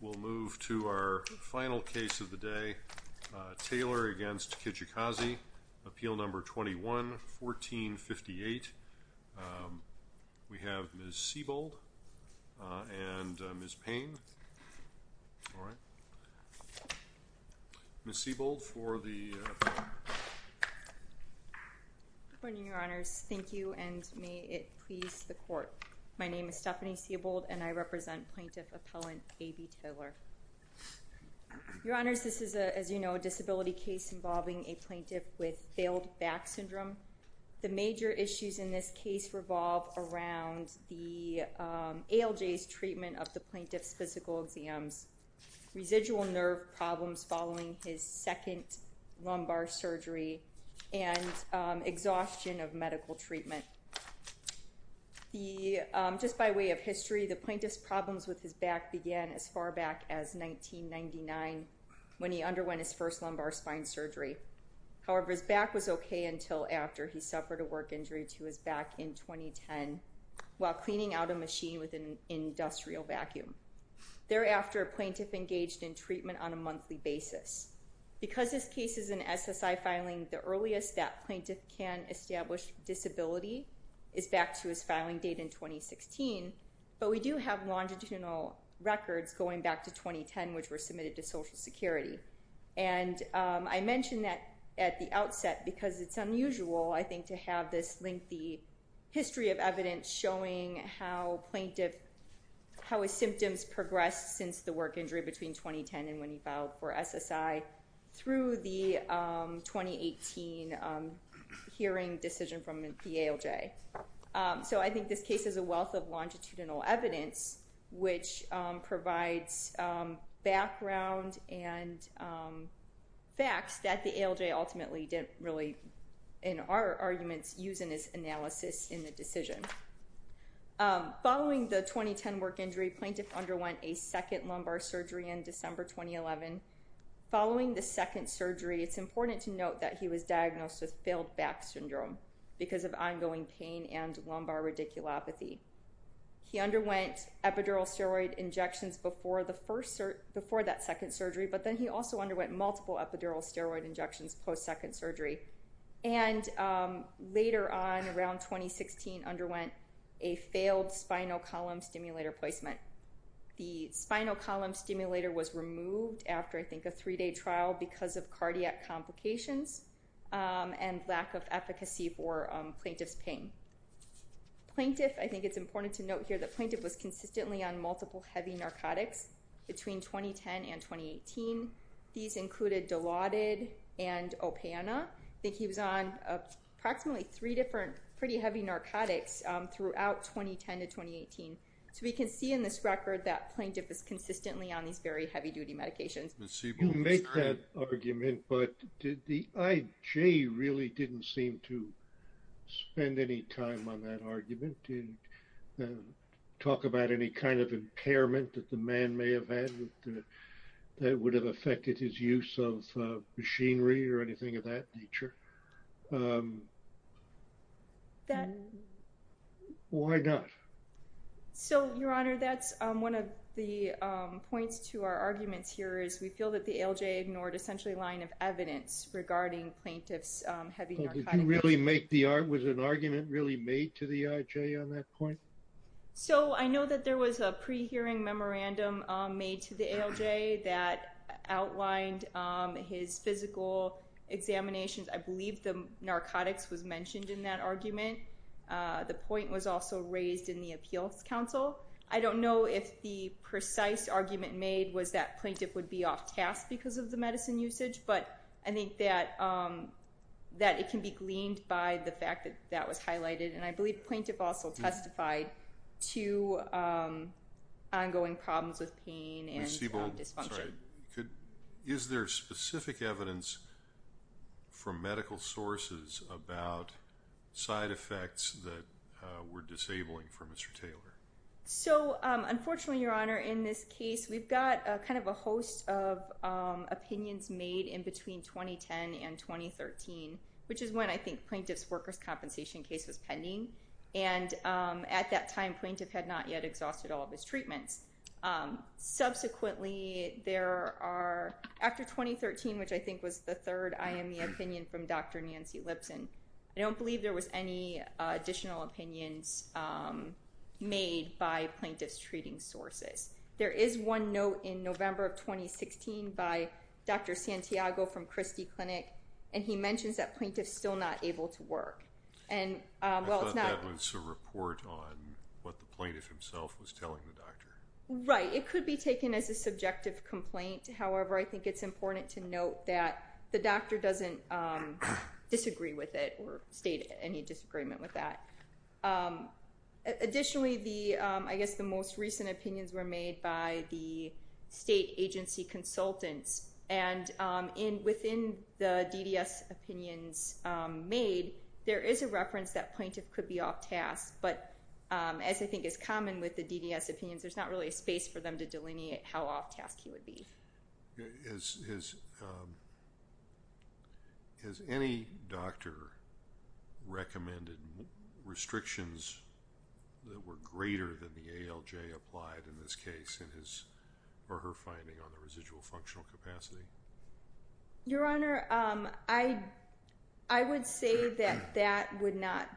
We'll move to our final case of the day, Taylor v. Kijakazi, Appeal No. 21-1458. We have Ms. Siebold and Ms. Payne. Ms. Siebold for the appeal. Good morning, Your Honors. My name is Stephanie Siebold and I represent Plaintiff Appellant A.B. Taylor. Your Honors, this is, as you know, a disability case involving a plaintiff with failed back syndrome. The major issues in this case revolve around the ALJ's treatment of the plaintiff's physical exams, residual nerve problems following his second lumbar surgery, and exhaustion of medical treatment. Just by way of history, the plaintiff's problems with his back began as far back as 1999 when he underwent his first lumbar spine surgery. However, his back was okay until after he suffered a work injury to his back in 2010 while cleaning out a machine with an industrial vacuum. Thereafter, a plaintiff engaged in treatment on a monthly basis. Because this case is an SSI filing, the earliest that plaintiff can establish disability is back to his filing date in 2016, but we do have longitudinal records going back to 2010, which were submitted to Social Security. I mentioned that at the outset because it's unusual, I think, to have this lengthy history of evidence showing how plaintiff, how his symptoms progressed since the work injury between 2010 and when he filed for SSI through the 2018 hearing decision from the ALJ. So I think this case is a wealth of longitudinal evidence which provides background and facts that the ALJ ultimately didn't really, in our arguments, use in its analysis in the decision. Following the 2010 work injury, plaintiff underwent a second lumbar surgery in December 2011. Following the second surgery, it's important to note that he was diagnosed with failed back syndrome because of ongoing pain and lumbar radiculopathy. He underwent epidural steroid injections before that second surgery, but then he also underwent multiple epidural steroid injections post-second surgery. And later on, around 2016, underwent a failed spinal column stimulator placement. The spinal column stimulator was removed after, I think, a three-day trial because of cardiac complications and lack of efficacy for plaintiff's pain. Plaintiff, I think it's important to note here that plaintiff was consistently on multiple heavy narcotics between 2010 and 2018. These included Dilaudid and Opana. I think he was on approximately three different pretty heavy narcotics throughout 2010 to 2018. So we can see in this record that plaintiff is consistently on these very heavy-duty medications. You make that argument, but did the IJ really didn't seem to spend any time on that argument? And talk about any kind of impairment that the man may have had that would have affected his use of machinery or anything of that nature? Why not? So, Your Honor, that's one of the points to our arguments here is we feel that the ALJ ignored essentially a line of evidence regarding plaintiff's heavy narcotics. Was an argument really made to the IJ on that point? So I know that there was a pre-hearing memorandum made to the ALJ that outlined his physical examinations. I believe the narcotics was mentioned in that argument. The point was also raised in the Appeals Council. I don't know if the precise argument made was that plaintiff would be off task because of the medicine usage, but I think that it can be gleaned by the fact that that was highlighted. And I believe plaintiff also testified to ongoing problems with pain and dysfunction. Is there specific evidence from medical sources about side effects that were disabling for Mr. Taylor? So unfortunately, Your Honor, in this case, we've got kind of a host of opinions made in between 2010 and 2013, which is when I think plaintiff's workers' compensation case was pending. And at that time, plaintiff had not yet exhausted all of his treatments. Subsequently, there are, after 2013, which I think was the third IME opinion from Dr. Nancy Lipson, I don't believe there was any additional opinions made by plaintiff's treating sources. There is one note in November of 2016 by Dr. Santiago from Christie Clinic, and he mentions that plaintiff's still not able to work. I thought that was a report on what the plaintiff himself was telling the doctor. Right. It could be taken as a subjective complaint. However, I think it's important to note that the doctor doesn't disagree with it or state any disagreement with that. Additionally, I guess the most recent opinions were made by the state agency consultants. And within the DDS opinions made, there is a reference that plaintiff could be off task. But as I think is common with the DDS opinions, there's not really a space for them to delineate how off task he would be. Has any doctor recommended restrictions that were greater than the ALJ applied in this case in his or her finding on the residual functional capacity? Your Honor, I would say that that would not...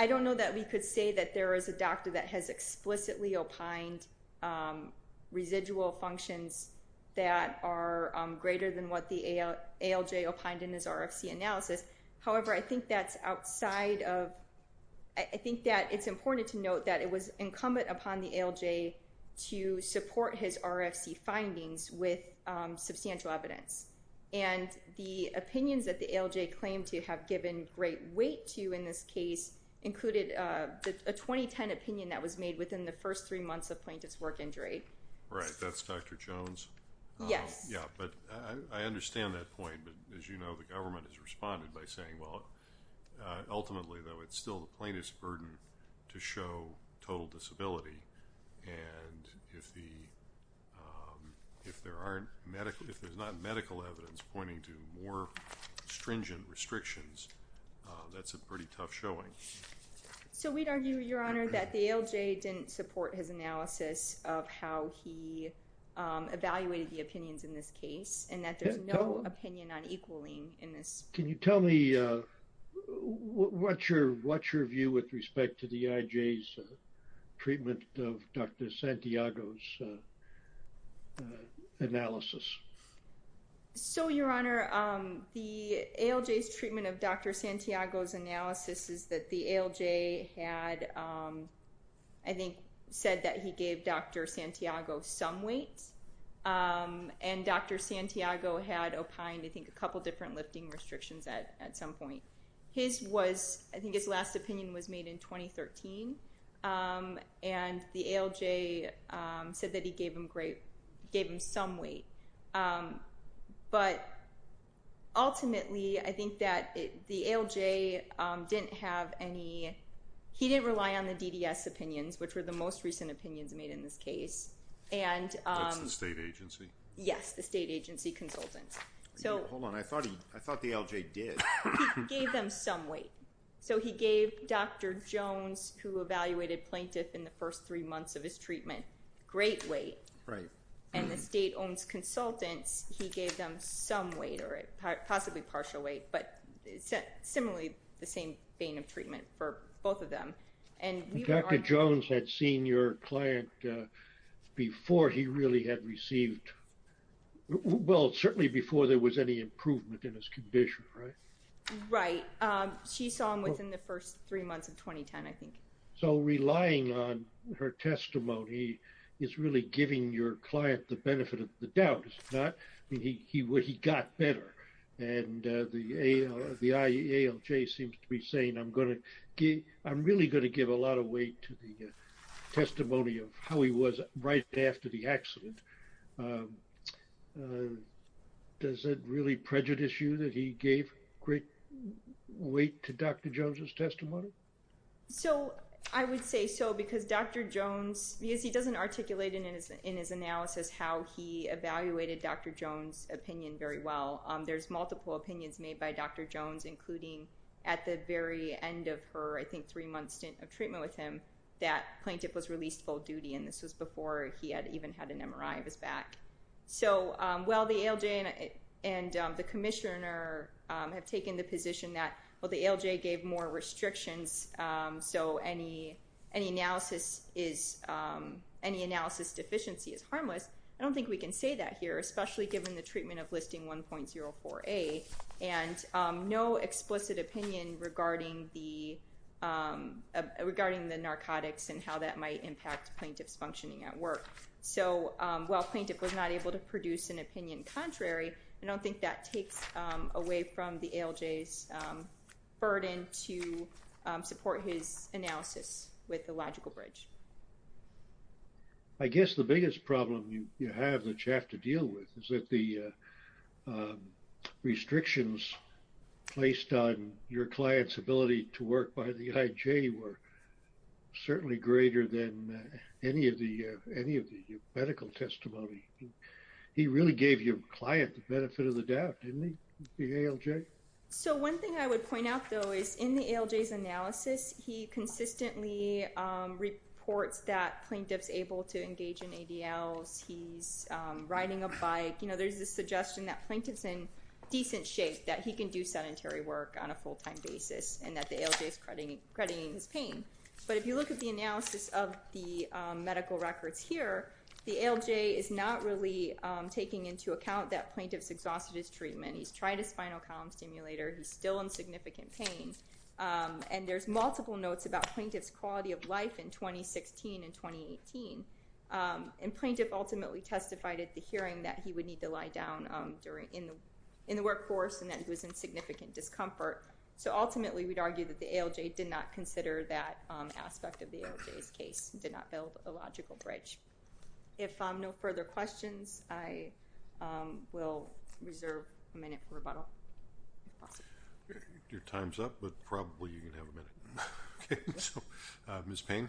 I don't know that we could say that there is a doctor that has explicitly opined on residual functions that are greater than what the ALJ opined in his RFC analysis. However, I think that's outside of... I think that it's important to note that it was incumbent upon the ALJ to support his RFC findings with substantial evidence. And the opinions that the ALJ claimed to have given great weight to in this case included a 2010 opinion that was made within the first three months of plaintiff's work injury. Right. That's Dr. Jones. Yes. Yeah. But I understand that point. But as you know, the government has responded by saying, well, ultimately, though, it's still the plaintiff's burden to show total disability. And if there's not medical evidence pointing to more stringent restrictions, that's a pretty tough showing. So we'd argue, Your Honor, that the ALJ didn't support his analysis of how he evaluated the opinions in this case and that there's no opinion on equaling in this. Can you tell me what's your view with respect to the IJ's treatment of Dr. Santiago's analysis? So, Your Honor, the ALJ's treatment of Dr. Santiago's analysis is that the ALJ had, I think, said that he gave Dr. Santiago some weight. And Dr. Santiago had opined, I think, a couple different lifting restrictions at some point. His was, I think his last opinion was made in 2013. And the ALJ said that he gave him some weight. But ultimately, I think that the ALJ didn't have any, he didn't rely on the DDS opinions, which were the most recent opinions made in this case. That's the state agency. Yes, the state agency consultants. Hold on. I thought the ALJ did. He gave them some weight. So he gave Dr. Jones, who evaluated plaintiff in the first three months of his treatment, great weight. Right. And the state owned consultants, he gave them some weight or possibly partial weight. But similarly, the same vein of treatment for both of them. Dr. Jones had seen your client before he really had received, well, certainly before there was any improvement in his condition, right? Right. She saw him within the first three months of 2010, I think. So relying on her testimony is really giving your client the benefit of the doubt. It's not, he got better. And the ALJ seems to be saying, I'm going to give, I'm really going to give a lot of weight to the testimony of how he was right after the accident. Does it really prejudice you that he gave great weight to Dr. Jones' testimony? So I would say so because Dr. Jones, because he doesn't articulate in his analysis how he evaluated Dr. Jones' opinion very well. There's multiple opinions made by Dr. Jones, including at the very end of her, I think, three months of treatment with him, that plaintiff was released full duty. And this was before he had even had an MRI of his back. So while the ALJ and the commissioner have taken the position that, well, the ALJ gave more restrictions. So any analysis deficiency is harmless. I don't think we can say that here, especially given the treatment of listing 1.04A and no at work. So while plaintiff was not able to produce an opinion contrary, I don't think that takes away from the ALJ's burden to support his analysis with the logical bridge. I guess the biggest problem you have that you have to deal with is that the restrictions placed on your client's ability to work by the IJ were certainly greater than any of the medical testimony. He really gave your client the benefit of the doubt, didn't he, the ALJ? So one thing I would point out, though, is in the ALJ's analysis, he consistently reports that plaintiff's able to engage in ADLs. He's riding a bike. There's a suggestion that plaintiff's in decent shape, that he can do sedentary work on a full-time basis, and that the ALJ's crediting his pain. But if you look at the analysis of the medical records here, the ALJ is not really taking into account that plaintiff's exhausted his treatment. He's tried a spinal column stimulator. He's still in significant pain. And there's multiple notes about plaintiff's quality of life in 2016 and 2018. And plaintiff ultimately testified at the hearing that he would need to lie down in the workforce and that he was in significant discomfort. So ultimately, we'd argue that the ALJ did not consider that aspect of the ALJ's case, did not build a logical bridge. If no further questions, I will reserve a minute for rebuttal, if possible. Your time's up, but probably you can have a minute. Ms. Payne?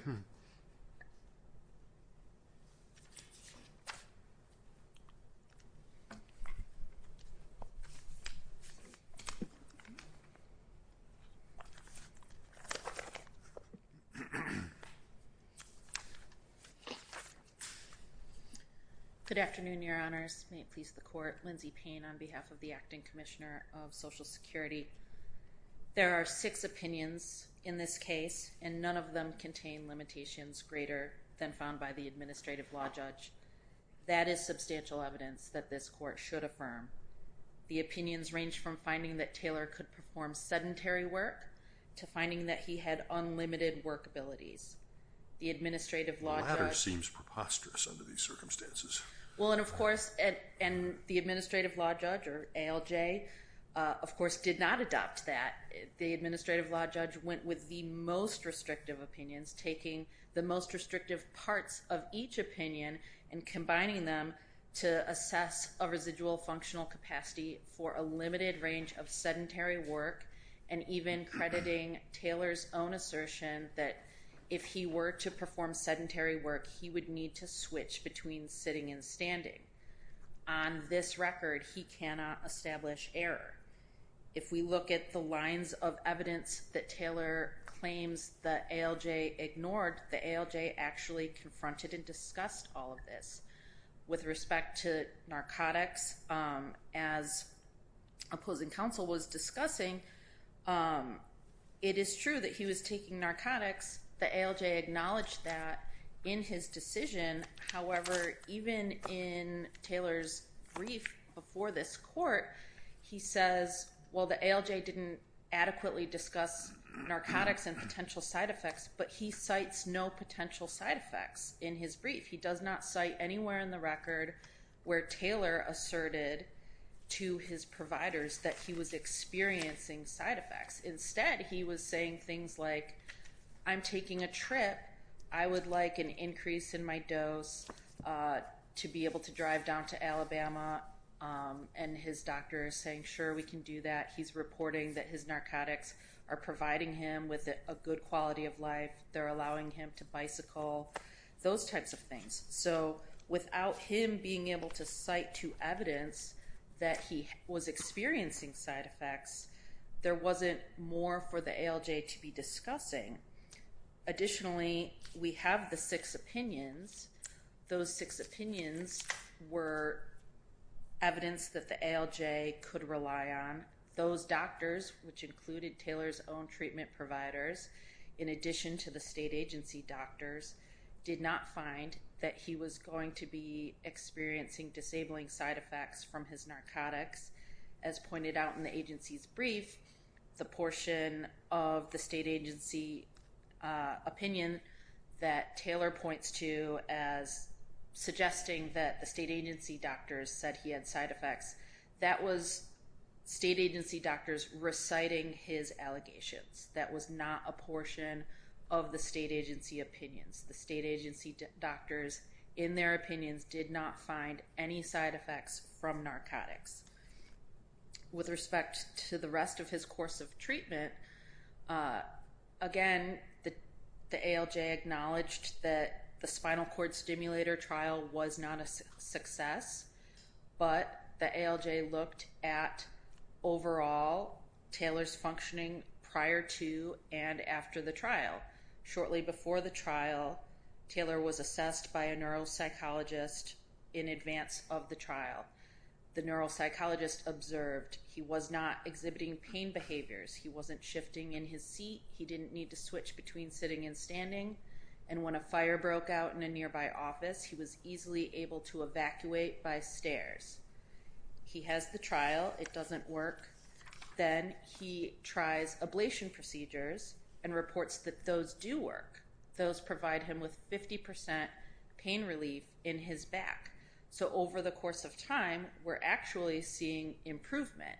Good afternoon, your honors. May it please the court. Lindsay Payne on behalf of the Acting Commissioner of Social Security. There are six opinions in this case, and none of them contain limitations greater than found by the Administrative Law Judge. That is substantial evidence that this court should affirm. The opinions range from finding that Taylor could perform sedentary work to finding that he had unlimited work abilities. The Administrative Law Judge— The latter seems preposterous under these circumstances. Well, and of course, and the Administrative Law Judge, or ALJ, of course did not adopt that. The Administrative Law Judge went with the most restrictive opinions, taking the most restrictive parts of each opinion and combining them to assess a residual functional capacity for a limited range of sedentary work, and even crediting Taylor's own assertion that if he were to perform sedentary work, he would need to switch between sitting and standing. On this record, he cannot establish error. If we look at the lines of evidence that Taylor claims the ALJ ignored, the ALJ actually confronted and discussed all of this. With respect to narcotics, as opposing counsel was discussing, it is true that he was taking narcotics. The ALJ acknowledged that in his decision. However, even in Taylor's brief before this court, he says, well, the ALJ didn't adequately discuss narcotics and potential side effects, but he cites no potential side effects in his brief. He does not cite anywhere in the record where Taylor asserted to his providers that he was experiencing side effects. Instead, he was saying things like, I'm taking a trip. I would like an increase in my dose to be able to drive down to Alabama. And his doctor is saying, sure, we can do that. He's reporting that his narcotics are providing him with a good quality of life. They're allowing him to bicycle, those types of things. So without him being able to cite to evidence that he was experiencing side effects, there wasn't more for the ALJ to be discussing. Additionally, we have the six opinions. Those six opinions were evidence that the ALJ could rely on. Those doctors, which included Taylor's own treatment providers, in addition to the state agency doctors, did not find that he was going to be experiencing disabling side effects from his narcotics. As pointed out in the agency's brief, the portion of the state agency opinion that Taylor points to as suggesting that the state agency doctors said he had side effects, that was state agency doctors reciting his allegations. That was not a portion of the state agency opinions. The state agency doctors, in their opinions, did not find any side effects from narcotics. With respect to the rest of his course of treatment, again, the ALJ acknowledged that the spinal cord stimulator trial was not a success, but the ALJ looked at overall Taylor's functioning prior to and after the trial. Shortly before the trial, Taylor was assessed by a neuropsychologist in advance of the trial. The neuropsychologist observed he was not exhibiting pain behaviors. He wasn't shifting in his seat. He didn't need to switch between sitting and standing. And when a fire broke out in a nearby office, he was easily able to evacuate by stairs. He has the trial. It doesn't work. Then he tries ablation procedures and reports that those do work. Those provide him with 50% pain relief in his back. So over the course of time, we're actually seeing improvement.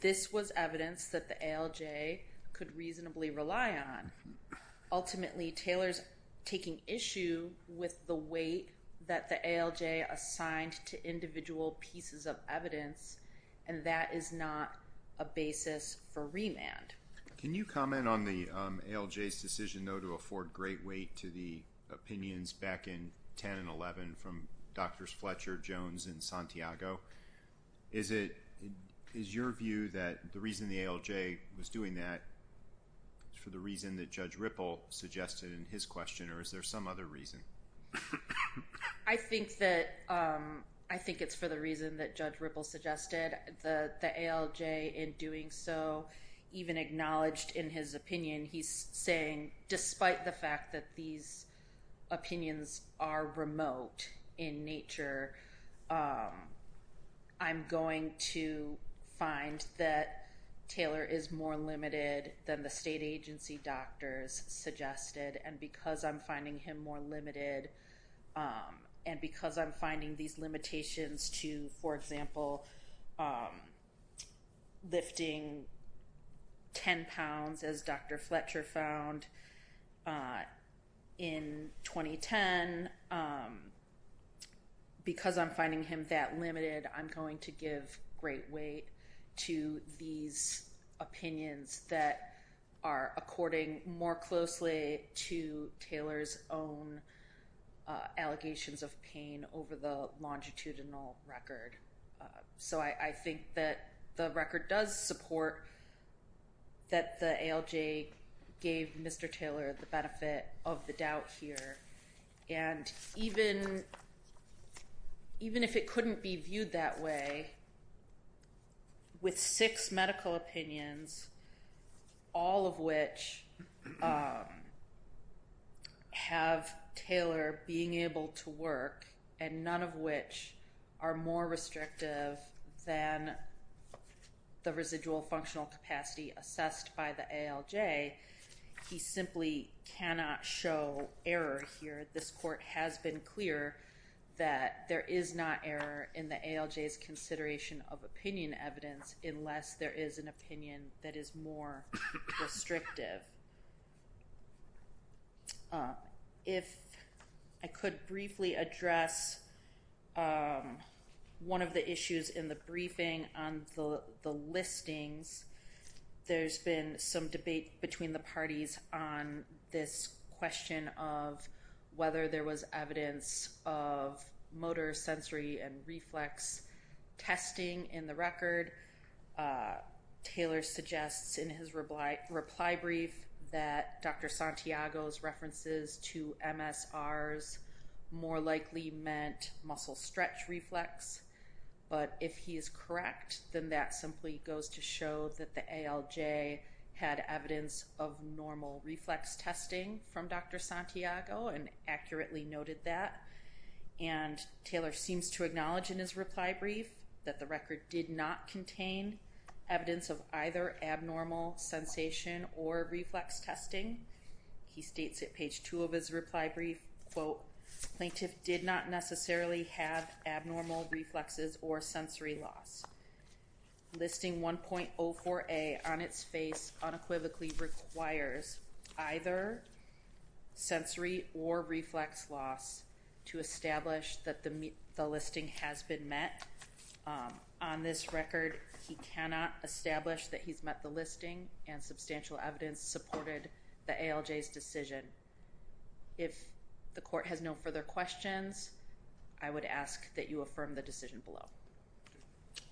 This was evidence that the ALJ could reasonably rely on. Ultimately, Taylor's taking issue with the weight that the ALJ assigned to individual pieces of evidence, and that is not a basis for remand. Can you comment on the ALJ's decision, though, to afford great weight to the opinions back in 10 and 11 from Drs. Fletcher, Jones, and Santiago? Is it, is your view that the reason the ALJ was doing that for the reason that Judge Ripple suggested in his question, or is there some other reason? I think that, I think it's for the reason that Judge Ripple suggested. The ALJ, in doing so, even acknowledged in his opinion, he's saying, despite the fact that these opinions are remote in nature, I'm going to find that Taylor is more limited than the state agency doctors suggested. And because I'm finding him more limited, and because I'm finding these limitations to, for example, lifting 10 pounds as Dr. Fletcher found in 2010, because I'm finding him that limited, I'm going to give great weight to these opinions that are according more closely to Taylor's own allegations of pain over the longitudinal record. So I think that the record does support that the ALJ gave Mr. Taylor the benefit of the doubt here. And even if it couldn't be viewed that way, with six medical opinions, all of which have Taylor being able to work, and none of which are more restrictive than the residual functional capacity assessed by the ALJ, he simply cannot show error here. This court has been clear that there is not error in the ALJ's consideration of opinion evidence unless there is an opinion that is more restrictive. If I could briefly address one of the issues in the briefing on the listings, there's been some debate between the parties on this question of whether there was evidence of motor, sensory, and reflex testing in the record. Taylor suggests in his reply brief that Dr. Santiago's references to MSRs more likely meant muscle stretch reflex. But if he is correct, then that simply goes to show that the ALJ had evidence of normal reflex testing from Dr. Santiago and accurately noted that. And Taylor seems to acknowledge in his reply brief that the record did not contain evidence of either abnormal sensation or reflex testing. He states at page two of his reply brief, quote, plaintiff did not necessarily have abnormal reflexes or sensory loss. Listing 1.04a on its face unequivocally requires either sensory or reflex loss to establish that the listing has been met. On this record, he cannot establish that he's met the listing and substantial evidence supported the ALJ's decision. If the court has no further questions, I would ask that you affirm the decision below.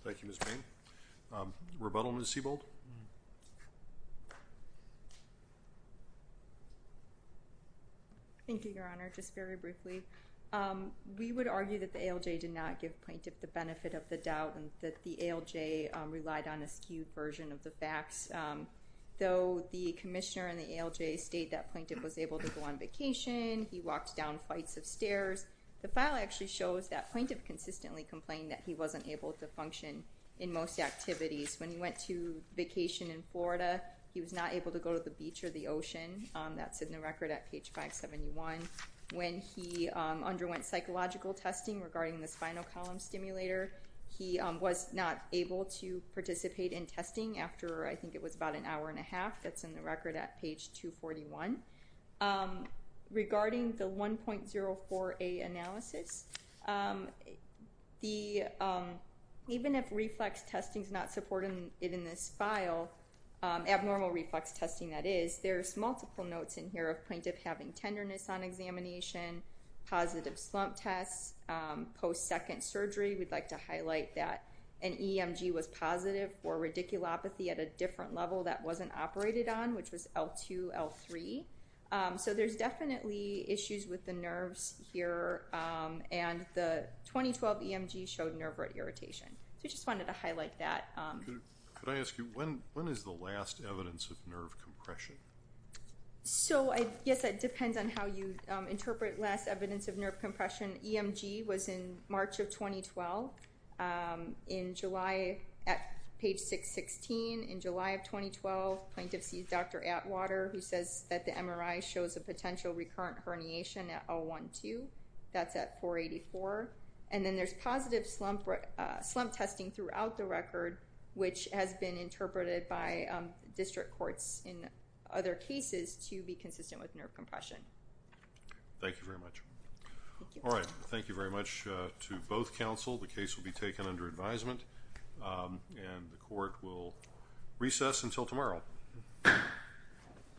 Thank you, Ms. Bain. Rebuttal, Ms. Sebald. Thank you, Your Honor. Just very briefly, we would argue that the ALJ did not give plaintiff the benefit of the doubt and that the ALJ relied on a skewed version of the facts. Though the commissioner and the ALJ state that plaintiff was able to go on vacation, he walked down flights of stairs, the file actually shows that plaintiff consistently complained that he wasn't able to function in most activities. When he went to vacation in Florida, he was not able to go to the beach or the ocean. That's in the record at page 571. When he underwent psychological testing regarding the spinal column stimulator, he was not able to participate in testing after, I think it was about an hour and a half. That's in the record at page 241. Regarding the 1.04a analysis, even if reflex testing is not supported in this file, abnormal reflex testing that is, there's multiple notes in here of plaintiff having tenderness on examination, positive slump tests, post-second surgery. We'd like to highlight that an EMG was positive for radiculopathy at a different level that wasn't operated on, which was L2, L3. So there's definitely issues with the nerves here, and the 2012 EMG showed nerve irritation. So I just wanted to highlight that. Could I ask you, when is the last evidence of nerve compression? So, yes, it depends on how you interpret last evidence of nerve compression. EMG was in March of 2012. In July, at page 616, in July of 2012, plaintiff sees Dr. Atwater, who says that the MRI shows a potential recurrent herniation at L1-2. That's at 484. And then there's positive slump testing throughout the record, which has been interpreted by district courts in other cases to be consistent with nerve compression. Thank you very much. All right. Thank you very much to both counsel. The case will be taken under advisement, and the court will recess until tomorrow.